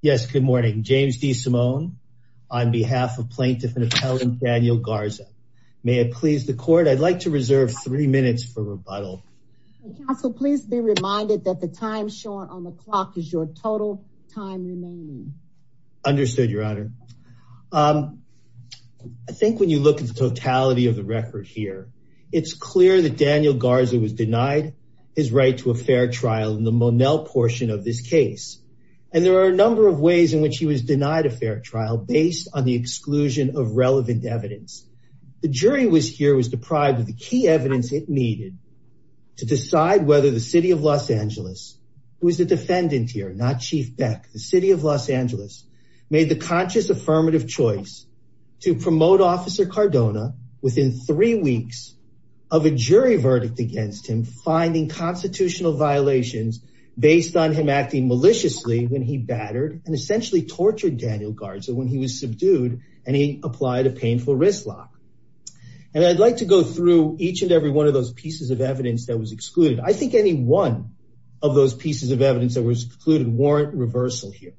Yes, good morning. James D. Simone on behalf of plaintiff and appellant Daniel Garza. May it please the court, I'd like to reserve three minutes for rebuttal. Counsel, please be reminded that the time shown on the clock is your total time remaining. Understood, your honor. I think when you look at the totality of the record here, it's clear that Daniel Garza was denied his right to a fair trial in the Monell portion of this in which he was denied a fair trial based on the exclusion of relevant evidence. The jury here was deprived of the key evidence it needed to decide whether the City of Los Angeles, who is the defendant here, not Chief Beck, the City of Los Angeles, made the conscious affirmative choice to promote Officer Cardona within three weeks of a jury verdict against him, finding constitutional violations based on him maliciously when he battered and essentially tortured Daniel Garza when he was subdued and he applied a painful wrist lock. And I'd like to go through each and every one of those pieces of evidence that was excluded. I think any one of those pieces of evidence that was excluded warrant reversal here.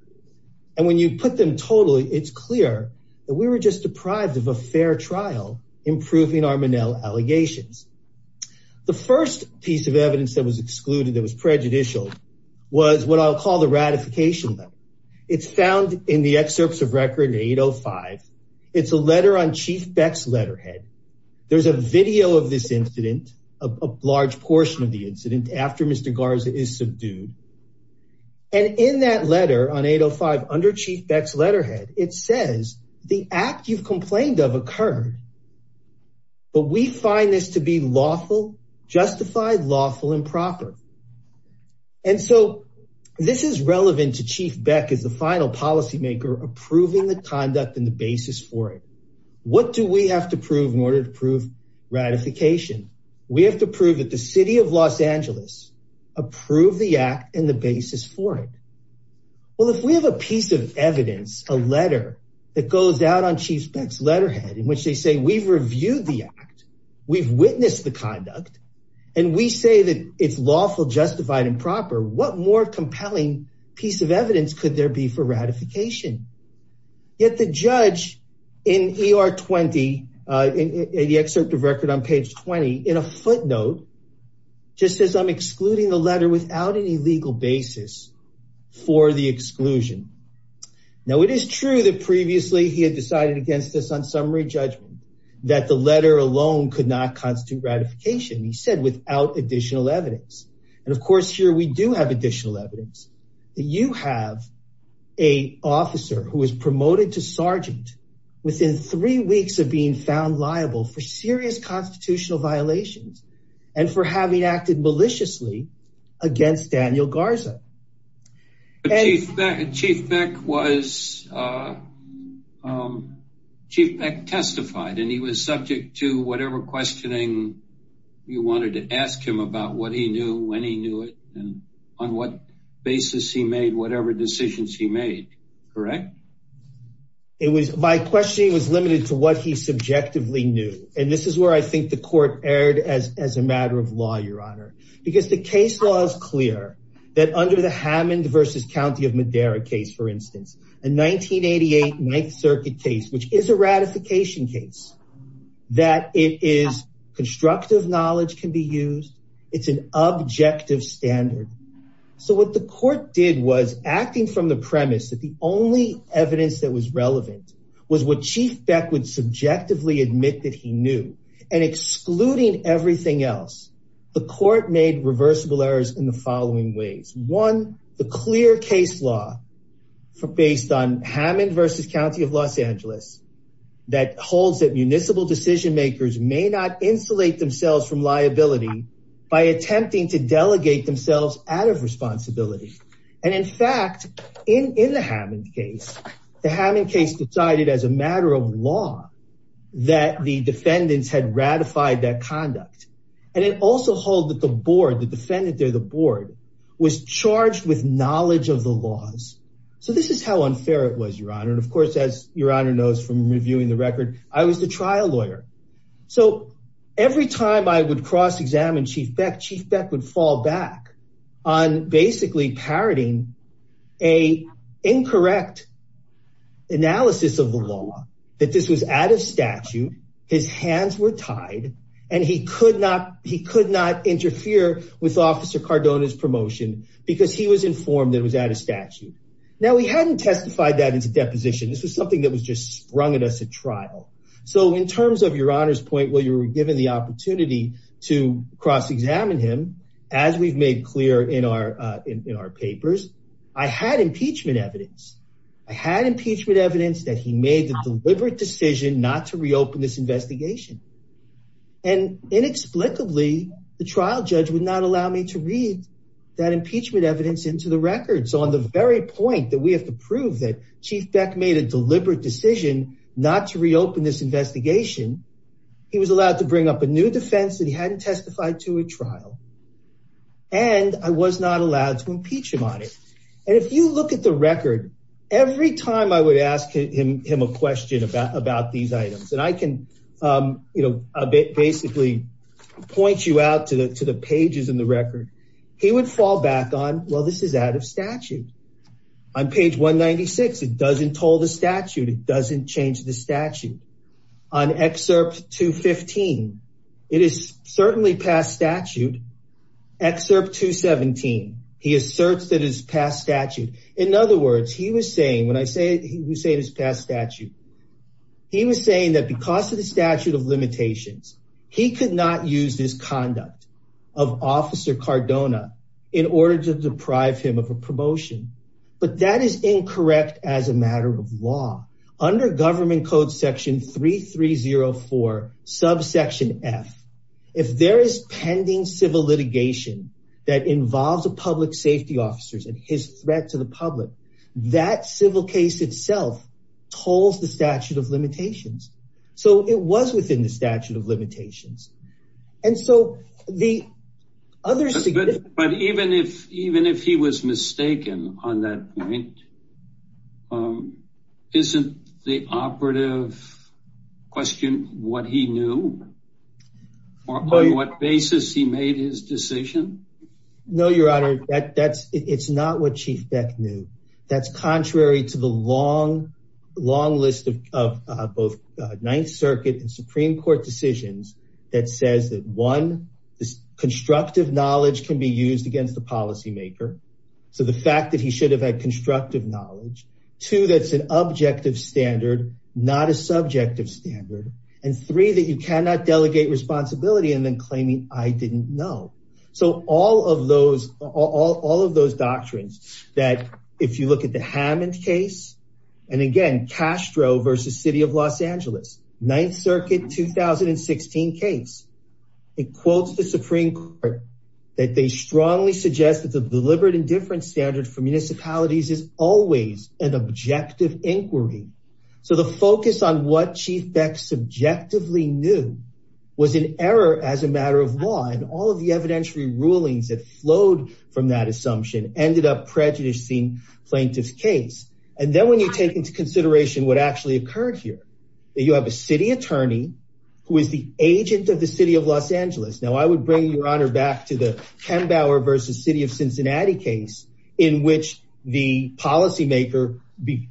And when you put them totally, it's clear that we were just deprived of a fair trial, improving our Monell allegations. The first piece of evidence that was excluded, that was prejudicial, was what I'll call the ratification letter. It's found in the excerpts of record 805. It's a letter on Chief Beck's letterhead. There's a video of this incident, a large portion of the incident after Mr. Garza is subdued. And in that letter on 805, under Chief Beck's letterhead, it says the act you've complained of occurred, but we find this to be lawful, justified, lawful, and proper. And so this is relevant to Chief Beck as the final policymaker approving the conduct and the basis for it. What do we have to prove in order to prove ratification? We have to prove that the city of Los Angeles approved the act and the basis for it. Well, if we have a piece of evidence, a letter that goes out on Chief Beck's we've reviewed the act, we've witnessed the conduct, and we say that it's lawful, justified, and proper, what more compelling piece of evidence could there be for ratification? Yet the judge in ER 20, in the excerpt of record on page 20, in a footnote, just says I'm excluding the letter without any legal basis for the exclusion. Now, it is true that previously he had decided against this on summary judgment, that the letter alone could not constitute ratification, he said, without additional evidence. And of course, here we do have additional evidence. You have a officer who is promoted to sergeant within three weeks of being found liable for serious constitutional violations and for having acted maliciously against Daniel Garza. But Chief Beck testified and he was subject to whatever questioning you wanted to ask him about what he knew, when he knew it, and on what basis he made whatever decisions he made, correct? My questioning was limited to what he subjectively knew, and this is where I think the court erred as a matter of law, Your Honor, because the case law is clear that under the Hammond versus County of Madera case, for instance, a 1988 Ninth Circuit case, which is a ratification case, that it is constructive knowledge can be used, it's an objective standard. So what the court did was acting from the premise that the only evidence that was relevant was what Chief Beck would subjectively admit that he knew, and excluding everything else, the court made reversible errors in the following ways. One, the clear case law based on Hammond versus County of Los Angeles that holds that municipal decision makers may not insulate themselves from liability by attempting to delegate themselves out of responsibility. And in fact, in the Hammond case, the Hammond case decided as a matter of law that the defendants had ratified that conduct, and it also held that the board, the defendant there, the board was charged with knowledge of the laws. So this is how unfair it was, Your Honor, and of course, as Your Honor knows from reviewing the record, I was the trial lawyer. So every time I would cross-examine Chief Beck, Chief Beck would fall back on basically parroting an incorrect analysis of the law, that this was out of statute, his hands were tied, and he could not interfere with Officer Cardona's promotion because he was informed that it was out of statute. Now, we hadn't testified that as a deposition. This was something that was just sprung at us at trial. So in terms of Your Honor's given the opportunity to cross-examine him, as we've made clear in our papers, I had impeachment evidence. I had impeachment evidence that he made the deliberate decision not to reopen this investigation. And inexplicably, the trial judge would not allow me to read that impeachment evidence into the record. So on the very point that we have to prove that Chief Beck made a was allowed to bring up a new defense that he hadn't testified to at trial, and I was not allowed to impeach him on it. And if you look at the record, every time I would ask him a question about these items, and I can basically point you out to the pages in the record, he would fall back on, well, this is out of statute. On page 196, it doesn't toll the It is certainly past statute. Excerpt 217, he asserts that it is past statute. In other words, he was saying, when I say we say it is past statute, he was saying that because of the statute of limitations, he could not use this conduct of Officer Cardona in order to deprive him of a promotion. But that is incorrect as a matter of law. Under Government Code Section 3304, subsection F, if there is pending civil litigation that involves a public safety officer and his threat to the public, that civil case itself tolls the statute of limitations. So it was within the statute of limitations. And so the others... But even if he was mistaken on that point, isn't the operative question what he knew? Or on what basis he made his decision? No, Your Honor. It's not what Chief Beck knew. That's contrary to the long, long list of both Ninth Circuit and Supreme Court decisions that says that, one, this constructive knowledge can be used against the policymaker. So the fact that he should have had constructive knowledge. Two, that's an objective standard, not a subjective standard. And three, that you cannot delegate responsibility and then claiming, I didn't know. So all of those, all of those doctrines that if you look at the Hammond case, and again, Castro versus City of Los Angeles, Ninth Circuit 2016 case, it quotes the Supreme Court, that they strongly suggest that the an objective inquiry. So the focus on what Chief Beck subjectively knew was an error as a matter of law. And all of the evidentiary rulings that flowed from that assumption ended up prejudicing plaintiff's case. And then when you take into consideration what actually occurred here, that you have a city attorney who is the agent of the City of Los Angeles. Now I would bring your honor back to the Pembauer versus City of Cincinnati case in which the policymaker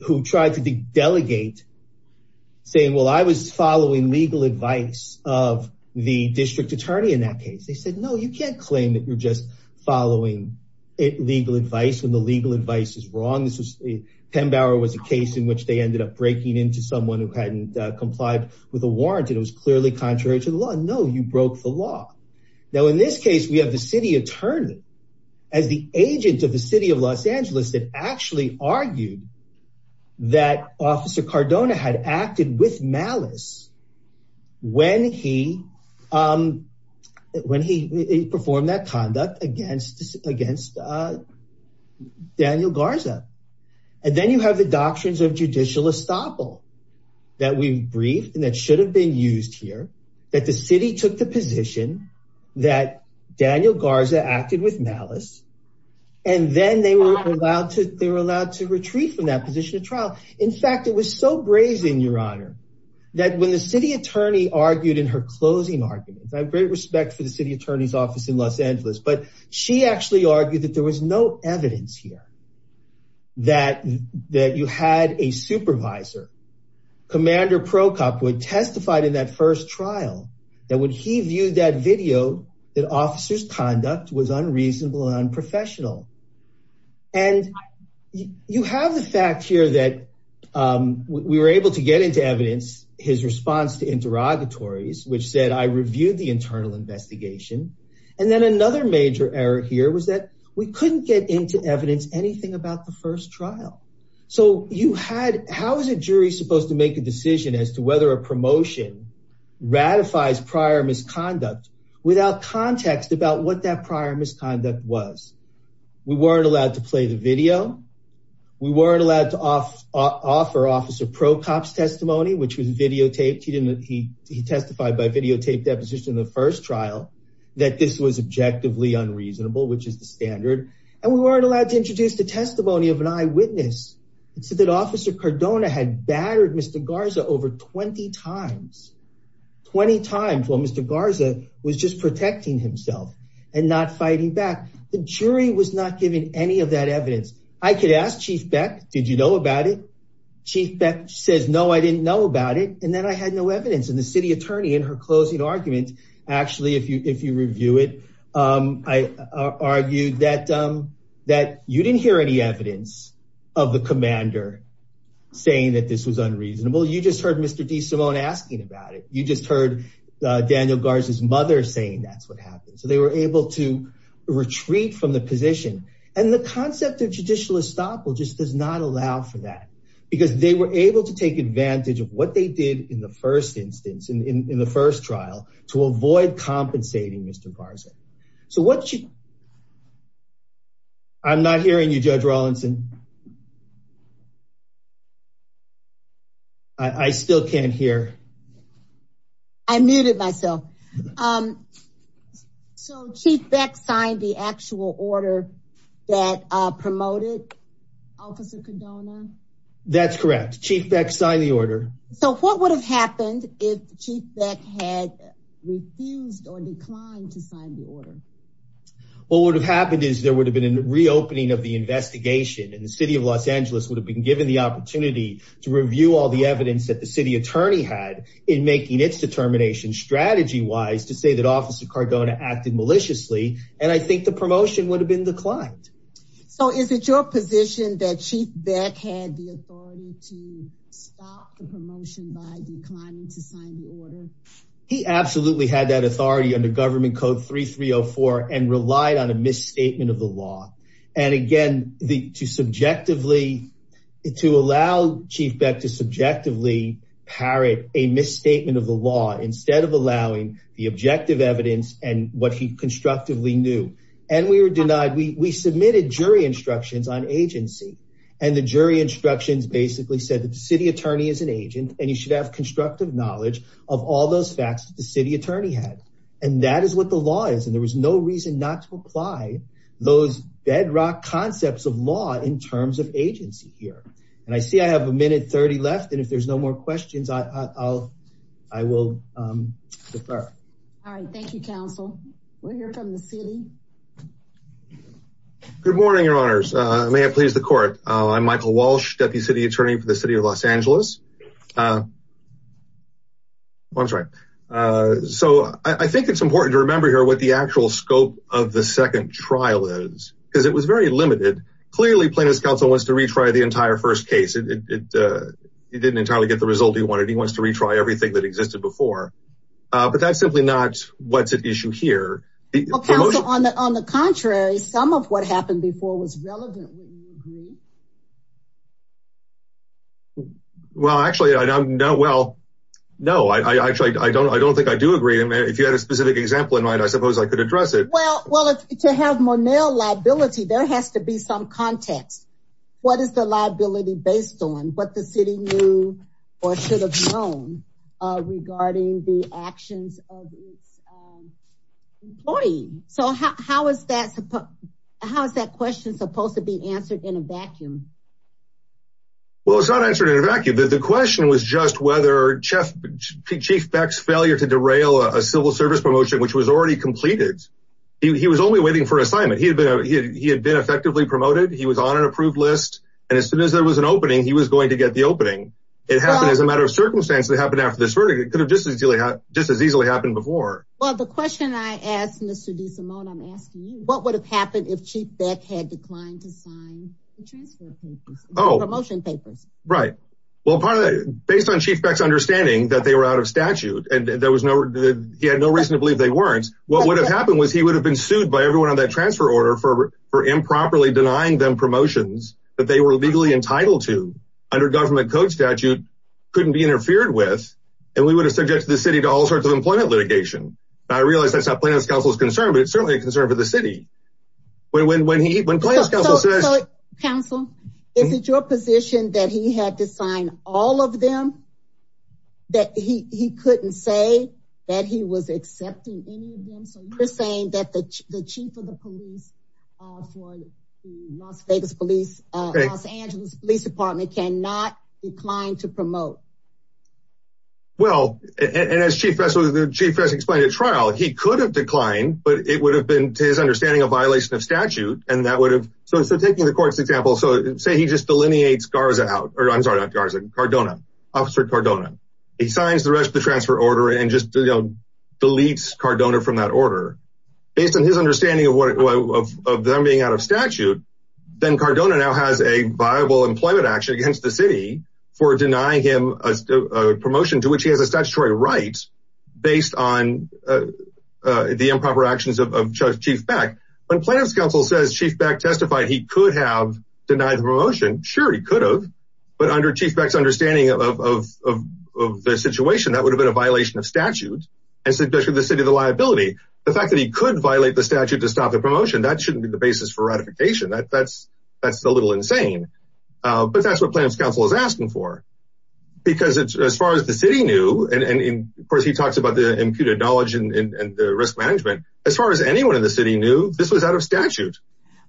who tried to delegate saying, well, I was following legal advice of the district attorney in that case. They said, no, you can't claim that you're just following legal advice when the legal advice is wrong. This was, Pembauer was a case in which they ended up breaking into someone who hadn't complied with a warrant and it was clearly contrary to the law. No, you broke the law. Now in this case, we have the city attorney as the agent of the City of Los Angeles that actually argued that Officer Cardona had acted with malice when he performed that conduct against Daniel Garza. And then you have the doctrines of judicial estoppel that we've briefed and that should have been used here, that the city took the position that Daniel Garza acted with malice, and then they were allowed to retreat from that position of trial. In fact, it was so brazen, your honor, that when the city attorney argued in her closing arguments, I have great respect for the city attorney's office in Los Angeles, but she actually argued that there was no evidence here that you had a supervisor, Commander Procopwood, testified in that first trial that when he viewed that video that officer's conduct was unreasonable and unprofessional. And you have the fact here that we were able to get into evidence, his response to interrogatories, which said I reviewed the internal investigation. And then another major error here was that we couldn't get into evidence anything about the first trial. So how is a jury supposed to make a decision as to whether a promotion ratifies prior misconduct without context about what that prior misconduct was? We weren't allowed to play the video. We weren't allowed to offer Officer Procop's testimony, which was videotaped. He testified by videotape deposition in the first trial that this was testimony of an eyewitness. It said that Officer Cardona had battered Mr. Garza over 20 times. 20 times while Mr. Garza was just protecting himself and not fighting back. The jury was not given any of that evidence. I could ask Chief Beck, did you know about it? Chief Beck says, no, I didn't know about it. And then I had no evidence. And the city attorney in her closing argument, actually, if you review it, argued that you didn't hear any evidence of the commander saying that this was unreasonable. You just heard Mr. DeSimone asking about it. You just heard Daniel Garza's mother saying that's what happened. So they were able to retreat from the position. And the concept of judicial estoppel just does not allow for that. Because they were able to take advantage of what they did in the first instance, in the first trial, to avoid compensating Mr. Garza. So what you... I'm not hearing you, Judge Rawlinson. I still can't hear. I muted myself. So Chief Beck signed the actual order that promoted Officer Cardona. That's correct. Chief Beck signed the order. So what would have happened if Chief Beck had refused or declined to sign the order? What would have happened is there would have been a reopening of the investigation and the City of Los Angeles would have been given the opportunity to review all the evidence that the city attorney had in making its determination strategy-wise to say that Officer Cardona acted maliciously. And I think the promotion would have been declined. So is it your position that Chief Beck had the authority to stop the promotion by declining to sign the order? He absolutely had that authority under Government Code 3304 and relied on a misstatement of the law. And again, to subjectively, to allow Chief Beck to subjectively parrot a statement of the law instead of allowing the objective evidence and what he constructively knew. And we were denied. We submitted jury instructions on agency. And the jury instructions basically said that the city attorney is an agent and he should have constructive knowledge of all those facts that the city attorney had. And that is what the law is. And there was no reason not to apply those bedrock concepts of law in terms of agency here. And I see I have a minute 30 left. And if there's no more questions, I will defer. All right. Thank you, counsel. We'll hear from the city. Good morning, your honors. May it please the court. I'm Michael Walsh, Deputy City Attorney for the City of Los Angeles. I'm sorry. So I think it's important to remember here what the actual scope of the second trial is, because it was very limited. Clearly, plaintiff's counsel wants to retry the entire first case. He didn't entirely get the result he wanted. He wants to retry everything that existed before. But that's simply not what's at issue here. Counsel, on the contrary, some of what happened before was relevant. Well, actually, I don't know. Well, no, I actually I don't I don't think I do agree. If you had a specific example in mind, I suppose I could address it. Well, what is the liability based on what the city knew or should have known regarding the actions of its employees? So how is that? How is that question supposed to be answered in a vacuum? Well, it's not answered in a vacuum that the question was just whether Chief Beck's failure to derail a civil service promotion, which was already completed. He was only waiting for assignment. He had been effectively promoted. He was on an approved list. And as soon as there was an opening, he was going to get the opening. It happened as a matter of circumstance that happened after this verdict. It could have just as easily happened before. Well, the question I asked Mr. DeSimone, I'm asking you, what would have happened if Chief Beck had declined to sign the transfer papers, the promotion papers? Right. Well, based on Chief Beck's understanding that they were out of statute and he had no belief they weren't, what would have happened was he would have been sued by everyone on that transfer order for improperly denying them promotions that they were legally entitled to under government code statute, couldn't be interfered with. And we would have subjected the city to all sorts of employment litigation. I realize that's not Plaintiff's counsel's concern, but it's certainly a concern for the city. When Plaintiff's counsel says... Counsel, is it your position that he had to sign all of them? That he couldn't say that he was accepting any of them? So you're saying that the chief of the police for Las Vegas Police, Los Angeles Police Department cannot decline to promote? Well, and as Chief Beck explained at trial, he could have declined, but it would have been, to his understanding, a violation of statute. And that would have... So taking the court's example, so say he just delineates Garza out, or I'm sorry, not Garza, Cardona, Officer Cardona. He signs the transfer order and just deletes Cardona from that order. Based on his understanding of them being out of statute, then Cardona now has a viable employment action against the city for denying him a promotion to which he has a statutory right based on the improper actions of Chief Beck. When Plaintiff's counsel says Chief Beck testified, he could have denied the promotion. Sure, he could have, but under Chief Beck's understanding of the situation, that would have been a violation of statute, and especially the city of the liability. The fact that he could violate the statute to stop the promotion, that shouldn't be the basis for ratification. That's a little insane, but that's what Plaintiff's counsel is asking for. Because as far as the city knew, and of course he talks about the imputed knowledge and the risk management. As far as anyone in the city knew, this was out of statute.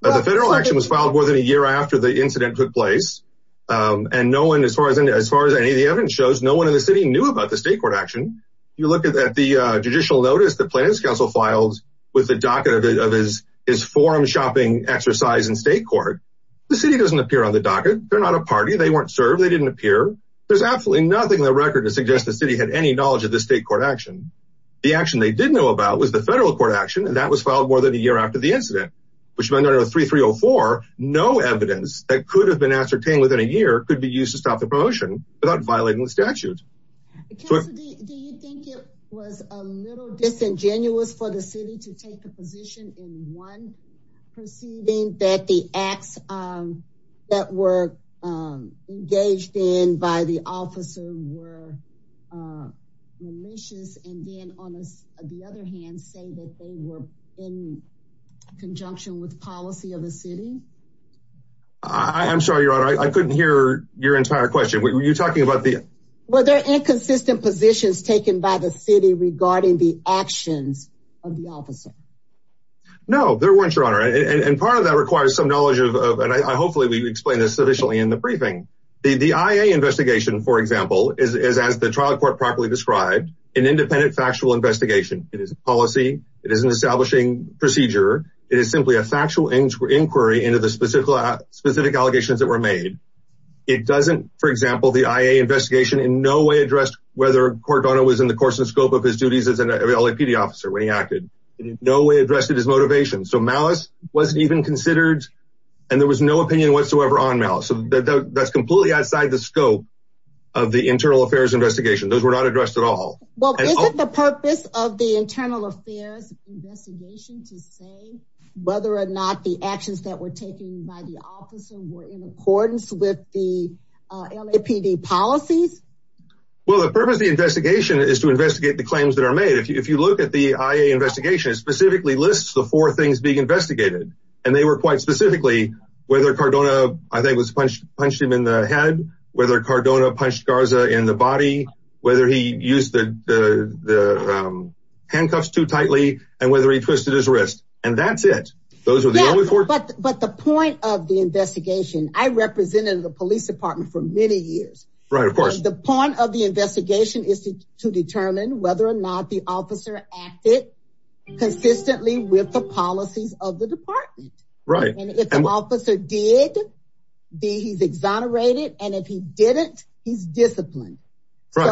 The federal action was filed more than a year after the incident took place. As far as any of the evidence shows, no one in the city knew about the state court action. You look at the judicial notice that Plaintiff's counsel filed with the docket of his forum shopping exercise in state court. The city doesn't appear on the docket. They're not a party. They weren't served. They didn't appear. There's absolutely nothing in the record to suggest the city had any knowledge of the state court action. The action they did know about was the federal court action, and that was filed more than a year after the incident, which is under 3304. No evidence that could have been ascertained within a year could be used to stop the promotion without violating the statute. Do you think it was a little disingenuous for the city to take the position in one proceeding that the acts that were engaged in by the officer were malicious, and then on the other hand say that they were in conjunction with policy of the city? I'm sorry, your honor, I couldn't hear your entire question. Were you talking about the... Were there inconsistent positions taken by the city regarding the actions of the officer? No, there weren't, your honor, and part of that requires some knowledge of, and hopefully we explain this sufficiently in the briefing. The IA investigation, for example, is as the trial court properly described, an independent factual investigation. It is a policy. It is an establishing procedure. It is simply a factual inquiry into the specific allegations that were made. It doesn't, for example, the IA investigation in no way addressed whether Cordona was in the course and scope of his duties as an LAPD officer when he acted. It in no way addressed his motivation, so malice wasn't even considered, and there was no opinion whatsoever on malice, so that's completely outside the scope of the internal affairs investigation. Those were not investigations to say whether or not the actions that were taken by the officer were in accordance with the LAPD policies? Well, the purpose of the investigation is to investigate the claims that are made. If you look at the IA investigation, it specifically lists the four things being investigated, and they were quite specifically whether Cordona, I think, was punched him in the and whether he twisted his wrist, and that's it. But the point of the investigation, I represented the police department for many years, right? Of course, the point of the investigation is to determine whether or not the officer acted consistently with the policies of the department, right? And if the officer did, he's exonerated, and if he didn't, he's disciplined. Right.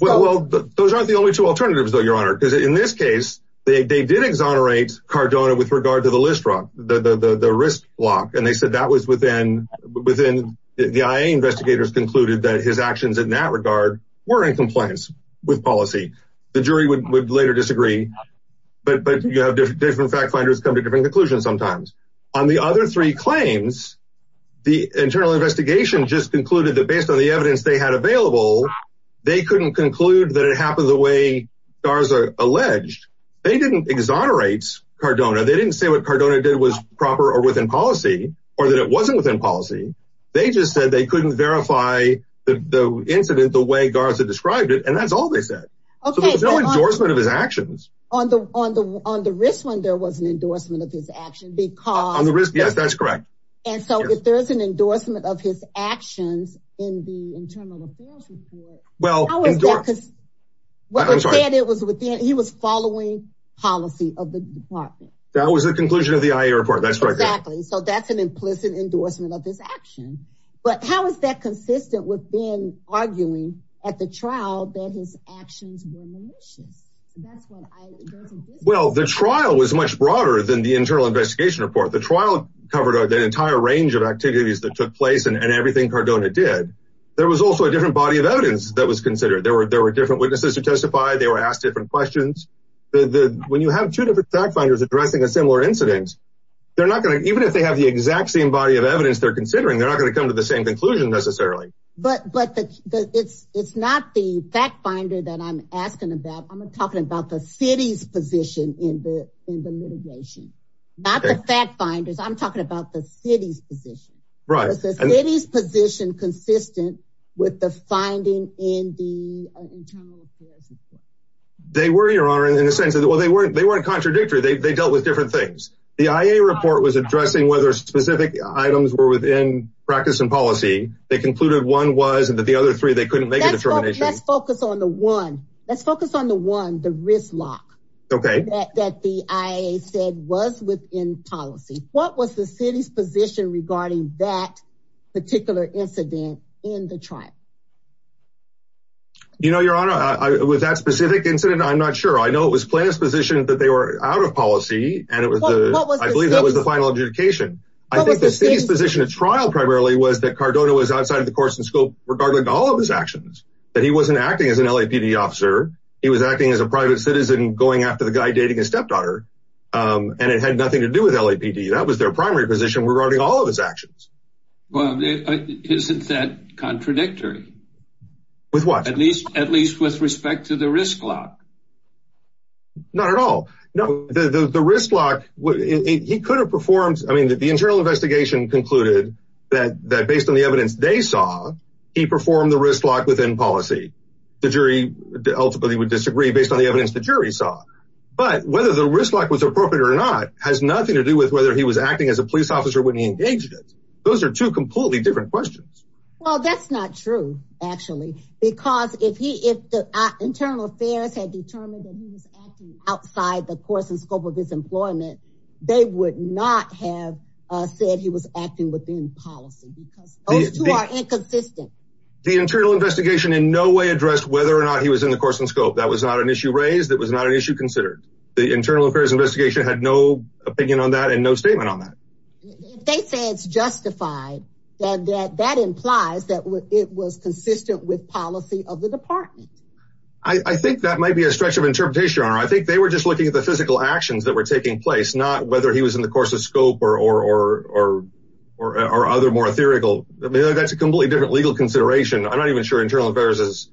Well, those aren't the only two alternatives, though, Your Honor, because in this case, they did exonerate Cordona with regard to the wrist lock, and they said that was within the IA investigators concluded that his actions in that regard were in compliance with policy. The jury would later disagree, but you have different fact finders come to different conclusions sometimes. On the other three claims, the internal investigation just concluded that on the evidence they had available, they couldn't conclude that it happened the way Garza alleged. They didn't exonerate Cordona. They didn't say what Cordona did was proper or within policy or that it wasn't within policy. They just said they couldn't verify the incident the way Garza described it, and that's all they said. Okay. So there was no endorsement of his actions. On the wrist one, there was an endorsement of his actions because- On the wrist, yes, that's in the internal affairs report. How is that because he was following policy of the department. That was the conclusion of the IA report. That's right. Exactly. So that's an implicit endorsement of his action. But how is that consistent with Ben arguing at the trial that his actions were malicious? Well, the trial was much broader than the internal investigation report. The trial covered that entire range of activities that took place and everything Cordona did. There was also a different body of evidence that was considered. There were different witnesses who testified. They were asked different questions. When you have two different fact finders addressing a similar incident, even if they have the exact same body of evidence they're considering, they're not going to come to the same conclusion necessarily. But it's not the fact finder that I'm asking about. I'm talking about the city's position in the litigation, not the fact finders. I'm talking about the city's position. Is the city's position consistent with the finding in the internal affairs report? They were, your honor, in a sense. Well, they weren't contradictory. They dealt with different things. The IA report was addressing whether specific items were within practice and policy. They concluded one was and that the other three they couldn't make a determination. Let's focus on the one, the risk lock that the IA said was within policy. What was the city's position regarding that particular incident in the trial? You know, your honor, with that specific incident, I'm not sure. I know it was plan's position that they were out of policy and it was the, I believe that was the final adjudication. I think the city's position of trial primarily was that Cardona was outside of the course and scope regarding all of his actions, that he wasn't acting as an LAPD officer. He was acting as a private citizen going after the guy dating his stepdaughter. And it had nothing to do with LAPD. That was their primary position regarding all of his actions. Well, isn't that contradictory? With what? At least with respect to the risk lock. Not at all. The risk lock, he could have performed, I mean, the internal investigation concluded that based on the evidence they saw, he performed the risk lock within policy. The jury ultimately would disagree based on the evidence the jury saw. But whether the risk lock was acting as a police officer when he engaged it, those are two completely different questions. Well, that's not true, actually, because if the internal affairs had determined that he was acting outside the course and scope of his employment, they would not have said he was acting within policy because those two are inconsistent. The internal investigation in no way addressed whether or not he was in the course and scope. That was not an issue raised. That was not an issue considered. The internal affairs had no opinion on that and no statement on that. They say it's justified. That implies that it was consistent with policy of the department. I think that might be a stretch of interpretation. I think they were just looking at the physical actions that were taking place, not whether he was in the course of scope or other more theoretical. That's a completely different legal consideration. I'm not even sure internal affairs is.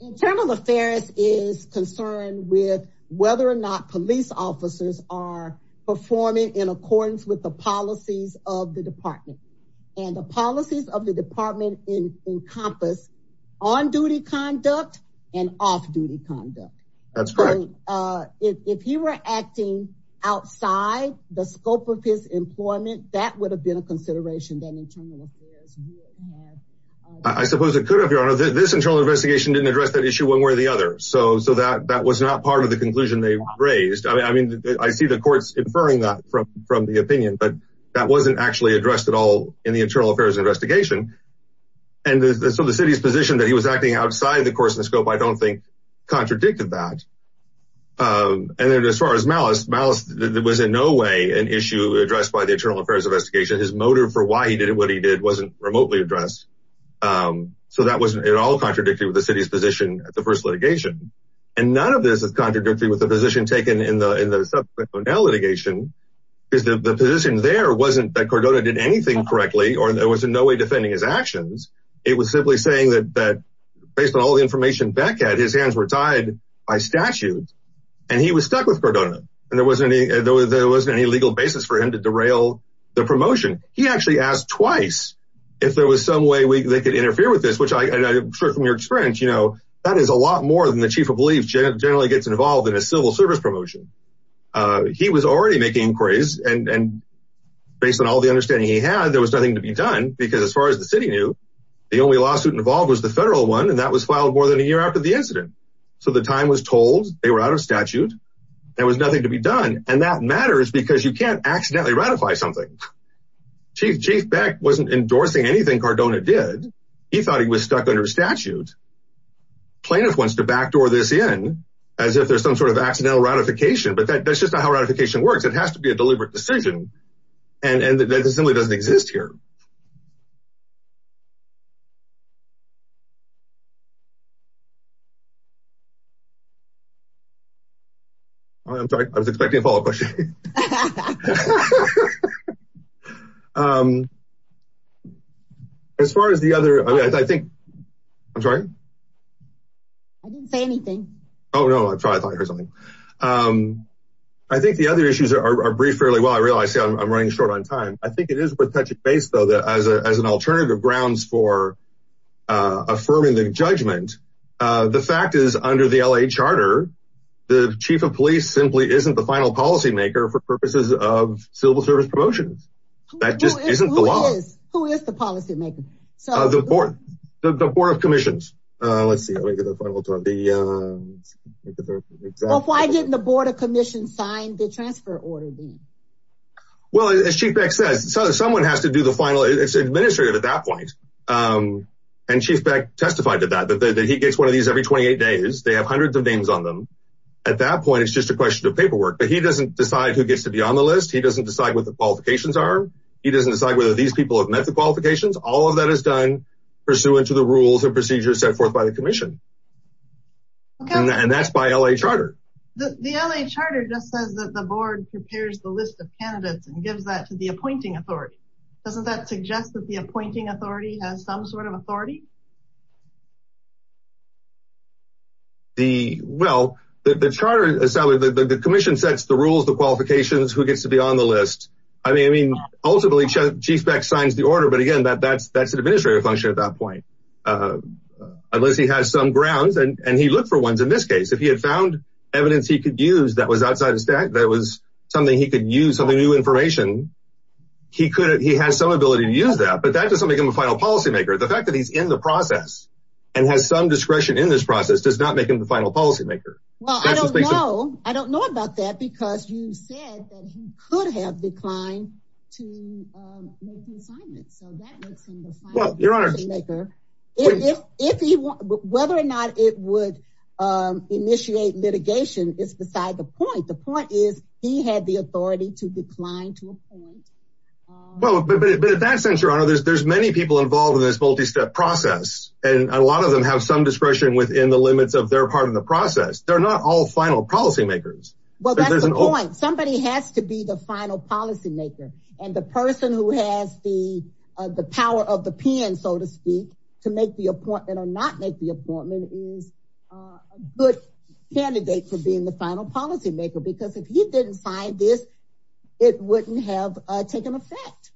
Internal affairs is concerned with whether or not police officers are performing in accordance with the policies of the department and the policies of the department encompass on duty conduct and off duty conduct. That's great. If you were acting outside the scope of his employment, that would have been a consideration that internal affairs. I suppose it could have. Your Honor, this internal investigation didn't address that issue one way or the other. So that was not part of the conclusion they raised. I mean, I see the courts inferring that from the opinion, but that wasn't actually addressed at all in the internal affairs investigation. And so the city's position that he was acting outside the course of the scope, I don't think contradicted that. And then as far as malice, malice was in no way an issue addressed by the internal affairs investigation. His motive for why he did what he did wasn't remotely addressed. So that wasn't at all contradictory with the city's position at the first litigation. And none of this is contradictory with the position taken in the subsequent litigation because the position there wasn't that Cordona did anything correctly or there was no way defending his actions. It was simply saying that based on all the information Beck had, his hands were tied by statute and he was stuck with He actually asked twice if there was some way they could interfere with this, which I'm sure from your experience, you know, that is a lot more than the chief of police generally gets involved in a civil service promotion. He was already making inquiries and based on all the understanding he had, there was nothing to be done because as far as the city knew, the only lawsuit involved was the federal one. And that was filed more than a year after the incident. So the time was told they were out of statute. There was nothing to be done. And that matters because you can't accidentally ratify something. Chief Beck wasn't endorsing anything Cordona did. He thought he was stuck under statute. Plaintiff wants to backdoor this in as if there's some sort of accidental ratification, but that's just not how ratification works. It has to be a deliberate decision. And that simply doesn't exist here. I'm sorry, I was expecting a follow-up question. As far as the other, I mean, I think, I'm sorry, I didn't say anything. Oh, no, I thought I heard something. I think the other issues are briefed fairly well. I realize I'm running short on time. I think it is worth touching base though, that as an alternative grounds for affirming the judgment, the fact is under the LA charter, the chief of police simply isn't the final policymaker for purposes of civil service promotions. That just isn't the law. Who is the policymaker? The board of commissions. Let's see. Why didn't the board of commissions sign the transfer order then? Well, as Chief Beck says, someone has to do the final. It's administrative at that point. And Chief Beck testified to that, that he gets one of these every 28 days. They have hundreds of names on them. At that point, it's just a question of paperwork, but he doesn't decide who gets to be on the list. He doesn't decide what the qualifications are. He doesn't decide whether these people have met the qualifications. All of that is done pursuant to the rules and procedures set forth by the commission. And that's by LA charter. The LA charter just says that the board prepares the list of candidates and gives that to the appointing authority. Doesn't that suggest that the appointing has some sort of authority? Well, the charter, the commission sets the rules, the qualifications, who gets to be on the list. I mean, ultimately, Chief Beck signs the order, but again, that's an administrative function at that point. Unless he has some grounds, and he looked for ones in this case. If he had found evidence he could use that was outside of stat, that was something he could use, something new information, he has some ability to use that. But that doesn't make him a final policymaker. The fact that he's in the process and has some discretion in this process does not make him the final policymaker. Well, I don't know. I don't know about that because you said that he could have declined to make the assignment. So that makes him the final policymaker. Whether or not it would initiate litigation is beside the point. The point is he had the involved in this multi-step process, and a lot of them have some discretion within the limits of their part of the process. They're not all final policymakers. Well, that's the point. Somebody has to be the final policymaker. And the person who has the power of the pen, so to speak, to make the appointment or not make the appointment is a good candidate for being the final policymaker. Because if he didn't sign this, it wouldn't have taken effect.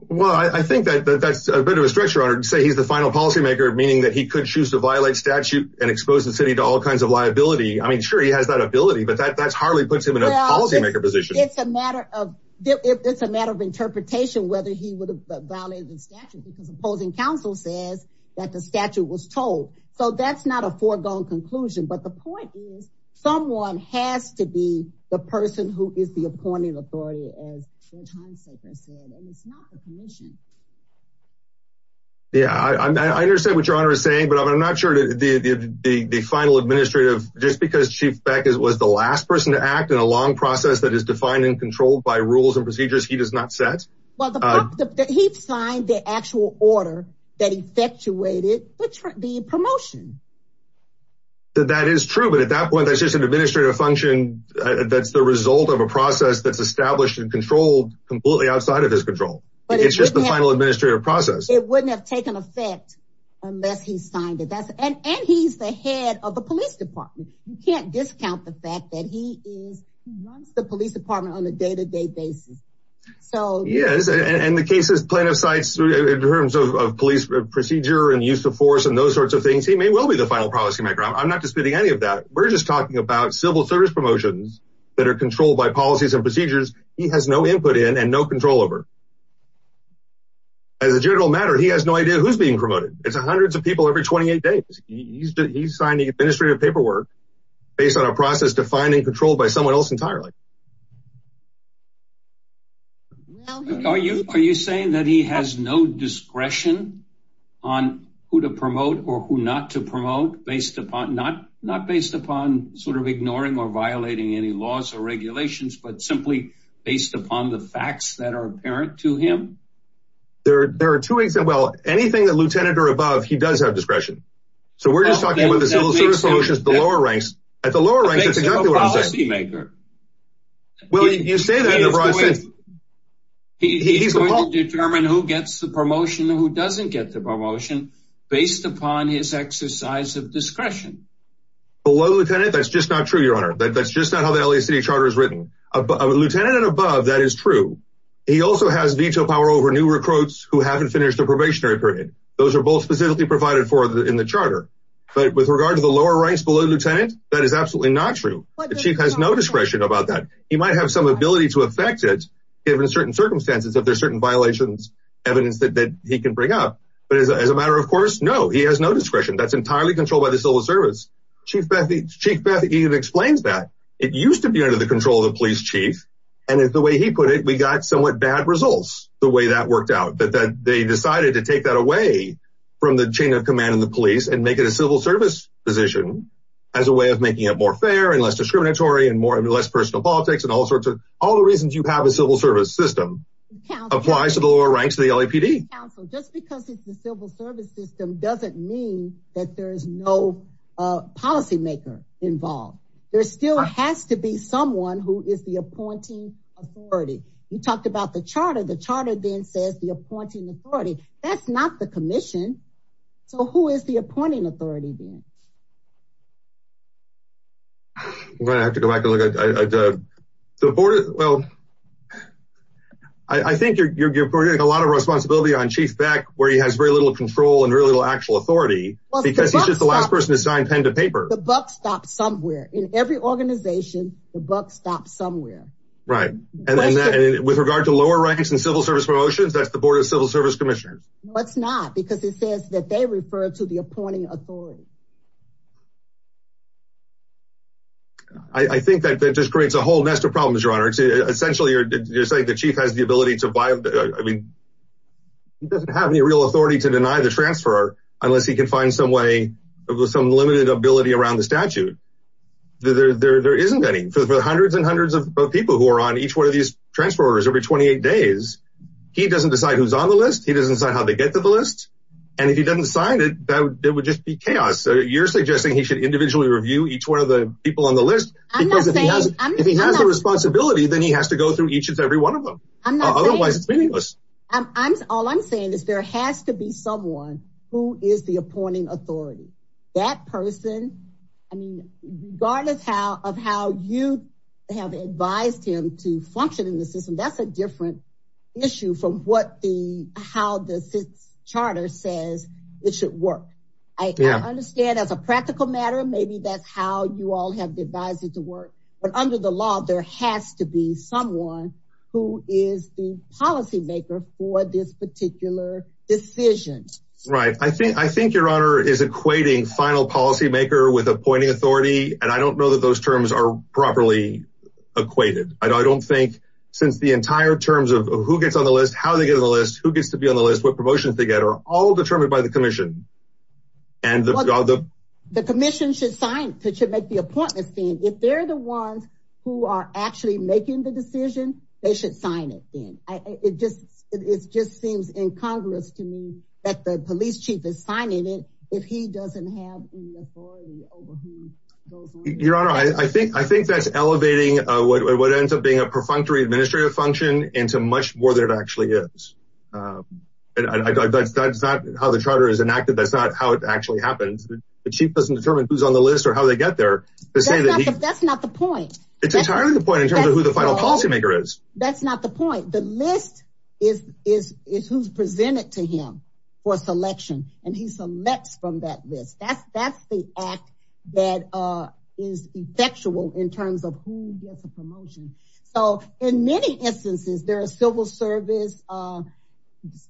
Well, I think that that's a bit of a stretch, Your Honor, to say he's the final policymaker, meaning that he could choose to violate statute and expose the city to all kinds of liability. I mean, sure, he has that ability, but that hardly puts him in a policymaker position. It's a matter of interpretation whether he would have violated the statute because opposing counsel says that the statute was told. So that's not a foregone conclusion. But the point is, someone has to be the person who is the appointing authority, as Judge Heinsacher said, and it's not the commission. Yeah, I understand what Your Honor is saying, but I'm not sure that the final administrative, just because Chief Beck was the last person to act in a long process that is defined and controlled by rules and procedures, he does not set? Well, he signed the actual order that effectuated the promotion. That is true, but at that point, that's just an administrative function. That's the result of a process that's established and controlled completely outside of his control. It's just the final administrative process. It wouldn't have taken effect unless he signed it. And he's the head of the police department. You can't discount the fact that he runs the police department on a day-to-day basis. Yes, and the case's plaintiff's sites in terms of police procedure and use of things, he may well be the final policymaker. I'm not disputing any of that. We're just talking about civil service promotions that are controlled by policies and procedures he has no input in and no control over. As a general matter, he has no idea who's being promoted. It's hundreds of people every 28 days. He's signing administrative paperwork based on a process defined and controlled by someone else entirely. Are you saying that he has no discretion on who to promote or who not to promote, not based upon sort of ignoring or violating any laws or regulations, but simply based upon the facts that are apparent to him? There are two ways. Well, anything the lieutenant or above, he does have discretion. So we're just talking about the civil service promotions at the lower ranks. At the lower ranks, that's exactly what I'm saying. He's a policymaker. He's going to determine who gets the promotion and who doesn't get the promotion based upon his exercise of discretion. Below lieutenant, that's just not true, your honor. That's just not how the LA City Charter is written. Lieutenant and above, that is true. He also has veto power over new recruits who haven't finished the probationary period. Those are both specifically provided for in the charter. But with regard to the lower ranks below lieutenant, that is absolutely not true. The chief has no discretion about that. He might have some ability to affect it, given certain circumstances, if there's certain violations, evidence that he can bring up. But as a matter of course, no, he has no discretion. That's entirely controlled by the civil service. Chief Beth even explains that. It used to be under the control of the police chief. And it's the way he put it, we got somewhat bad results the way that worked out, that they decided to take that away from the chain of command and the police and make it a civil service position as a way of making it more fair and less discriminatory and less personal politics and all sorts of all the reasons you have a civil service system applies to the lower ranks of the LAPD. Just because it's the civil service system doesn't mean that there is no policymaker involved. There still has to be someone who is the appointing authority. You talked about the charter, the charter then says the appointing authority. That's not the commission. So who is the appointing authority then? I have to go back and look at the board. Well, I think you're putting a lot of responsibility on Chief Beck, where he has very little control and really little actual authority, because he's just the last person to sign pen to paper. The buck stops somewhere in every organization. The buck stops somewhere. Right. And then with regard to lower ranks and civil service promotions, that's the board of civil service commissioners. That's not because it says that they refer to the appointing authority. I think that that just creates a whole nest of problems, Your Honor. Essentially, you're saying the chief has the ability to buy. I mean, he doesn't have any real authority to deny the transfer unless he can find some way of some limited ability around the statute. There isn't any for the hundreds and hundreds of people who are on each one of these transfer orders every 28 days. He doesn't decide who's on the list. He doesn't decide how to get to the list. And if he doesn't sign it, that would just be chaos. So you're suggesting he should individually review each one of the people on the list because if he has the responsibility, then he has to go through each and every one of them. Otherwise, it's meaningless. I'm all I'm saying is there has to be someone who is the appointing authority. That person, I mean, regardless of how you have advised him to function in the system, that's a different issue from what the how the charter says it should work. I understand as a practical matter, maybe that's how you all have devised it to work. But under the law, there has to be someone who is the policymaker for this particular decision. Right? I think I think Your Honor is equating final policymaker with appointing authority. And I don't know that those terms are properly equated. I don't think since the entire terms of who gets on the list, how they get on the list, who gets to be on the list, what promotions they get are all determined by the commission. And the commission should sign to make the appointment. If they're the ones who are actually making the decision, they should sign it. It just it just seems incongruous to me that the police chief is signing it if he doesn't have the authority over who goes on the list. Your Honor, I think I think that's elevating what ends up being a perfunctory administrative function into much more than it actually is. And that's not how the charter is enacted. That's not how it actually happens. The chief doesn't determine who's on the list or how they get there. That's not the point. It's entirely the point in terms of who the final policymaker is. That's not the point. The list is is is who's presented to him for selection. And he selects from that list. That's that's the act that is effectual in terms of who gets a promotion. So in many instances, there are civil service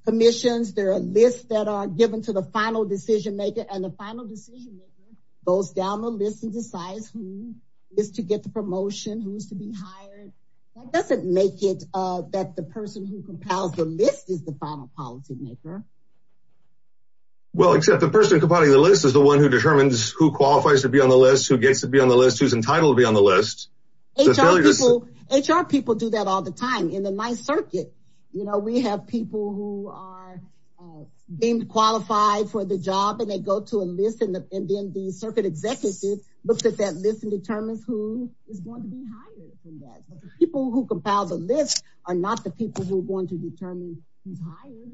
commissions. There are lists that are given to the final decision maker and the final decision maker goes down the list and decides who is to get the promotion, who is to be hired. That doesn't make it that the person who compiles the list is the final policymaker. Well, except the person compiling the list is the one who determines who qualifies to be on the list, who gets to be on the list, who's entitled to be on the list. HR people do that all the time in the ninth circuit. You know, we have people who are being qualified for the job and they go to a list and then the circuit executive looks at that list and determines who is going to be hired. People who compile the list are not the people who are going to determine who's hired.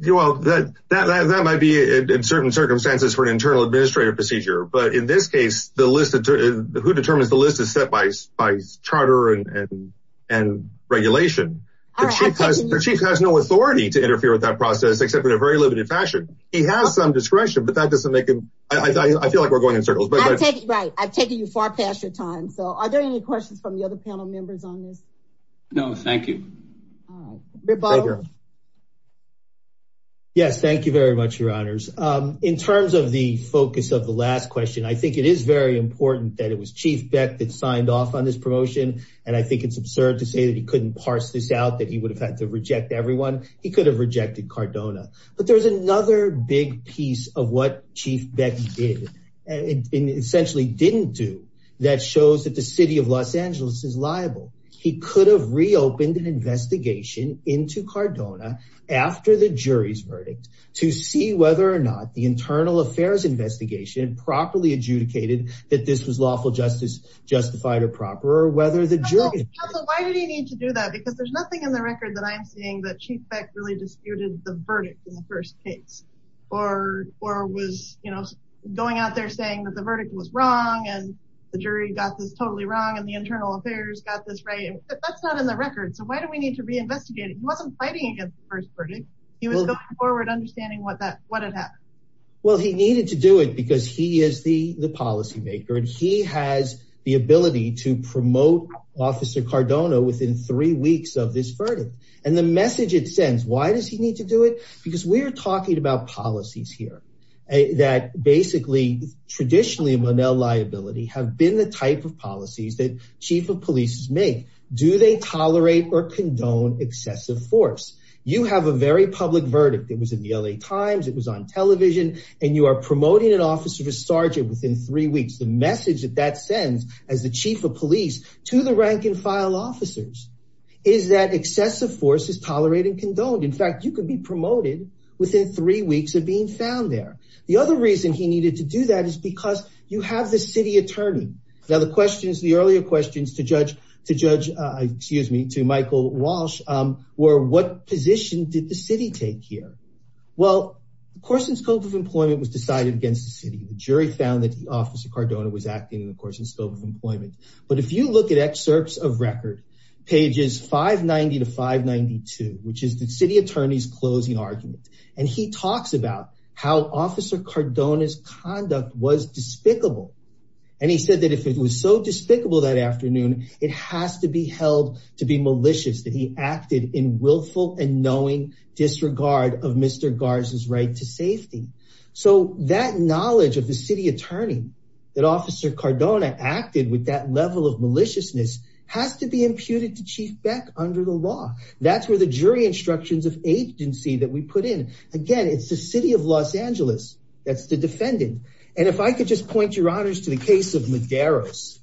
You know that that that might be in certain circumstances for an internal administrative procedure. But in this case, the list who determines the list is set by by charter and regulation. The chief has no authority to interfere with that process, except in a very limited fashion. He has some discretion, but that doesn't make him. I feel like we're going right. I've taken you far past your time. So are there any questions from the other panel members on this? No, thank you. Yes, thank you very much, your honors. In terms of the focus of the last question, I think it is very important that it was Chief Beck that signed off on this promotion. And I think it's absurd to say that he couldn't parse this out, that he would have had to reject everyone. He could have rejected Cardona. But there's another big piece of what Chief Beck did. And essentially didn't do that shows that the city of Los Angeles is liable. He could have reopened an investigation into Cardona after the jury's verdict to see whether or not the internal affairs investigation properly adjudicated that this was lawful justice, justified or proper, or whether the jury. Why did he need to do that? Because there's nothing in the record that I'm seeing that Chief Beck really disputed the verdict in the first case or was going out there saying that the verdict was wrong and the jury got this totally wrong and the internal affairs got this right. That's not in the record. So why do we need to reinvestigate? He wasn't fighting against the first verdict. He was going forward understanding what had happened. Well, he needed to do it because he is the policymaker and he has the ability to promote Officer Cardona within three weeks of this verdict. And the message it sends, why does he need to do it? Because we're talking about policies here that basically, traditionally, Monell liability have been the type of policies that chief of police make. Do they tolerate or condone excessive force? You have a very public verdict. It was in the LA Times, it was on television, and you are promoting an officer to sergeant within three weeks. The message that that sends as the chief of police to the rank and file officers is that excessive force is tolerated and condoned. In fact, you could be promoted within three weeks of being found there. The other reason he needed to do that is because you have the city attorney. Now the questions, the earlier questions to judge, to judge, excuse me, to Michael Walsh, were what position did the city take here? Well, the course and scope of employment was decided against the city. The jury found that the Officer Cardona was acting in the course and scope of employment. But if you look at excerpts of record, pages 590 to 592, which is the city attorney's closing argument, and he talks about how Officer Cardona's conduct was despicable. And he said that if it was so despicable that afternoon, it has to be held to be malicious, that he acted in willful and knowing disregard of Mr. Garza's right to safety. So that knowledge of the city attorney, that Officer Cardona acted with that level of maliciousness, has to be imputed to Chief Beck under the law. That's where the jury instructions of agency that we put in. Again, it's the city of Los Angeles, that's the defendant. And if I could just point your honors to the case of Medeiros,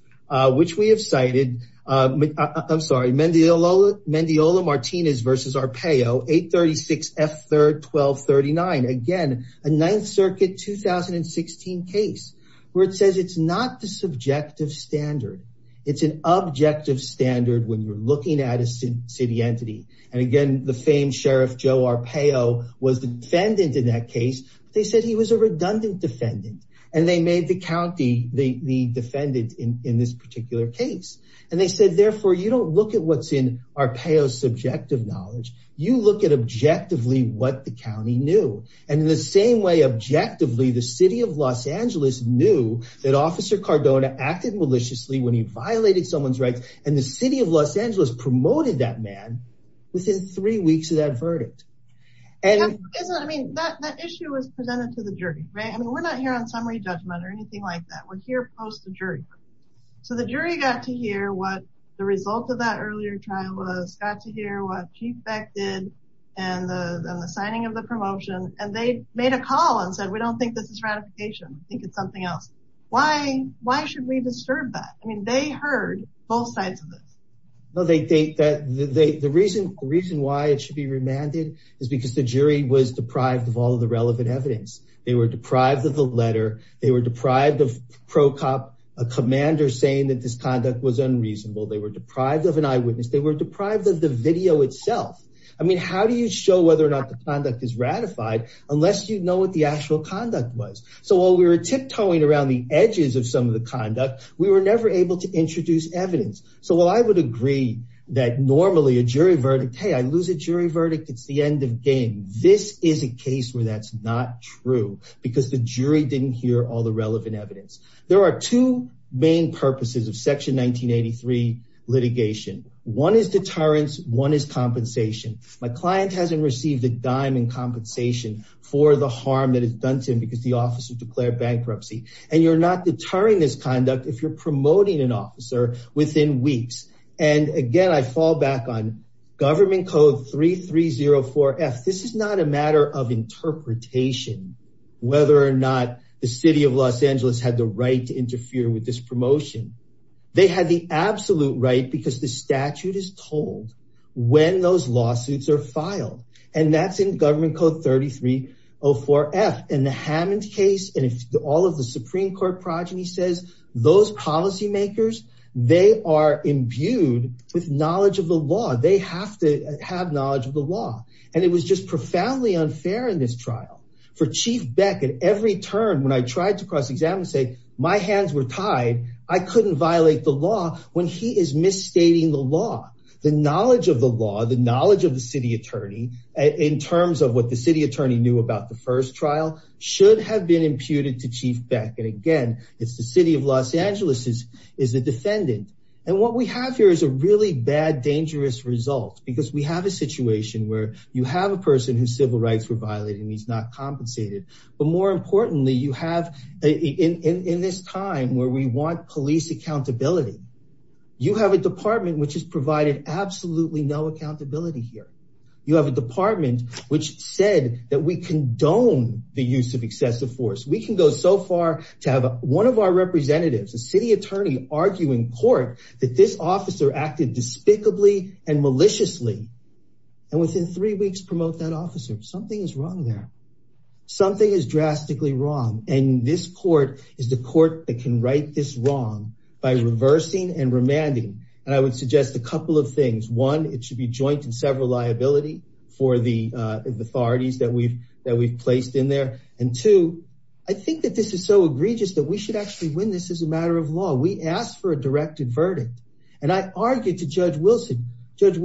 which we have cited, I'm sorry, Mendiola-Martinez v. Arpaio, 836 F. 3rd 1239. Again, a Ninth Circuit 2016 case, where it says it's not the subjective standard. It's an objective standard when you're looking at a city entity. And again, the famed Sheriff Joe Arpaio was the defendant in that case. They said he was a redundant defendant. And they made the county the defendant in this particular case. And they said, therefore, you don't look at what's in Arpaio's subjective knowledge, you look at objectively what the county knew. And in the same way, objectively, the city of Los Angeles knew that Officer Cardona acted maliciously when he violated someone's rights. And the city of Los Angeles promoted that man within three weeks of that verdict. And I mean, that issue was presented to the jury, right? I mean, we're not here on summary judgment or anything like that. We're here post the jury. So the jury got to hear what the result of that earlier trial was, got to hear what Chief Beck did, and the signing of the promotion. And they made a call and said, we don't think this is ratification. I think it's something else. Why should we disturb that? I mean, they heard both sides of this. Well, the reason why it should be remanded is because the jury was deprived of all of the relevant evidence. They were deprived of the letter. They were deprived of a commander saying that this conduct was unreasonable. They were deprived of an eyewitness. They were deprived of the video itself. I mean, how do you show whether or not the conduct is ratified unless you know what the actual conduct was? So while we were tiptoeing around the edges of some of the conduct, we were never able to introduce evidence. So while I would agree that normally a jury verdict, hey, I lose a jury verdict, it's the end of game. This is a case where that's not true because the jury didn't hear all the relevant evidence. There are two main purposes of Section 1983 litigation. One is deterrence. One is compensation. My client hasn't received a dime in compensation for the harm that it's done to him because the officer declared bankruptcy. And you're not deterring this conduct if you're promoting an officer within weeks. And again, I fall back on Government Code 3304F. This is not a matter of interpretation whether or not the City of Los Angeles had the right to interfere with this promotion. They had the absolute right because the statute is told when those lawsuits are filed. And that's in Government Code 3304F. In the Hammond case, and all of the Supreme Court progeny says those policymakers, they are imbued with knowledge of the law. They have to have in this trial. For Chief Beck, at every turn, when I tried to cross-examine and say, my hands were tied, I couldn't violate the law when he is misstating the law. The knowledge of the law, the knowledge of the City Attorney in terms of what the City Attorney knew about the first trial should have been imputed to Chief Beck. And again, it's the City of Los Angeles is the defendant. And what we have here is a really bad, dangerous result because we have a situation where you have a person whose civil rights were violated and he's not compensated. But more importantly, you have in this time where we want police accountability, you have a department which has provided absolutely no accountability here. You have a department which said that we condone the use of excessive force. We can go so far to have one of our representatives, a City Attorney arguing court that this officer acted despicably and within three weeks promote that officer. Something is wrong there. Something is drastically wrong. And this court is the court that can right this wrong by reversing and remanding. And I would suggest a couple of things. One, it should be joint and several liability for the authorities that we've placed in there. And two, I think that this is so egregious that we should actually win this as a matter of law. We asked for a directed verdict. And I argued to Judge Wilson. Judge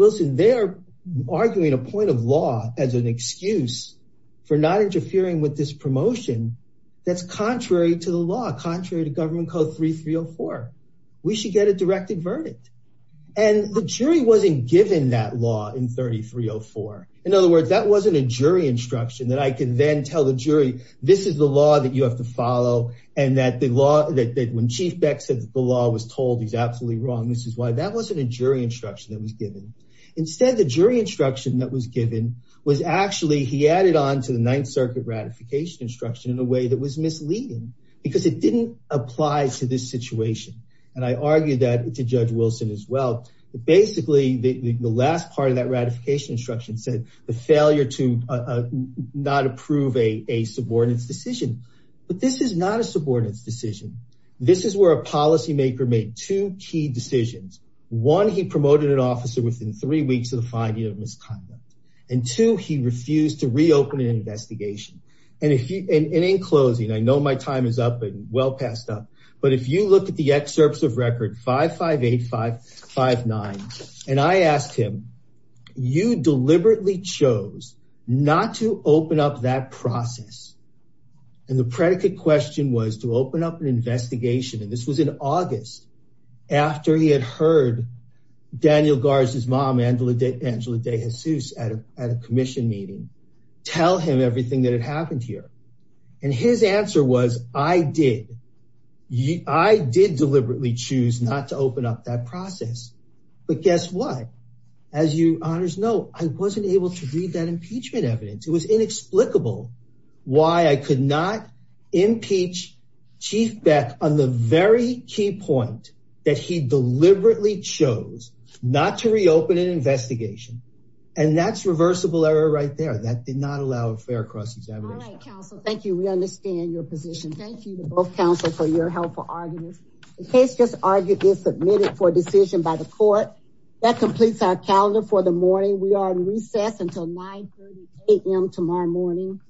arguing a point of law as an excuse for not interfering with this promotion. That's contrary to the law, contrary to Government Code 3304. We should get a directed verdict. And the jury wasn't given that law in 3304. In other words, that wasn't a jury instruction that I can then tell the jury, this is the law that you have to follow. And that the law that when Chief Beck said the law was told he's absolutely wrong. This is why that wasn't a jury instruction that was given. Instead, the jury instruction that was given was actually he added on to the Ninth Circuit ratification instruction in a way that was misleading because it didn't apply to this situation. And I argued that to Judge Wilson as well. But basically, the last part of that ratification instruction said the failure to not approve a subordinates decision. But this is not a subordinates decision. This is where a policymaker made two key decisions. One, he promoted an officer within three weeks of the finding of misconduct. And two, he refused to reopen an investigation. And in closing, I know my time is up and well passed up. But if you look at the excerpts of record 558559, and I asked him, you deliberately chose not to open up that process. And the predicate question was to open up an investigation. And this was in August, after he had heard Daniel Garza's mom, Angela De Jesus, at a commission meeting, tell him everything that had happened here. And his answer was, I did. I did deliberately choose not to open up that process. But guess what? As you honors know, I wasn't able to read that impeachment evidence. It was not to reopen an investigation. And that's reversible error right there that did not allow a fair cross examination. Thank you. We understand your position. Thank you to both counsel for your helpful arguments. The case just argued is submitted for decision by the court that completes our calendar for the morning. We are in recess until 9am tomorrow morning.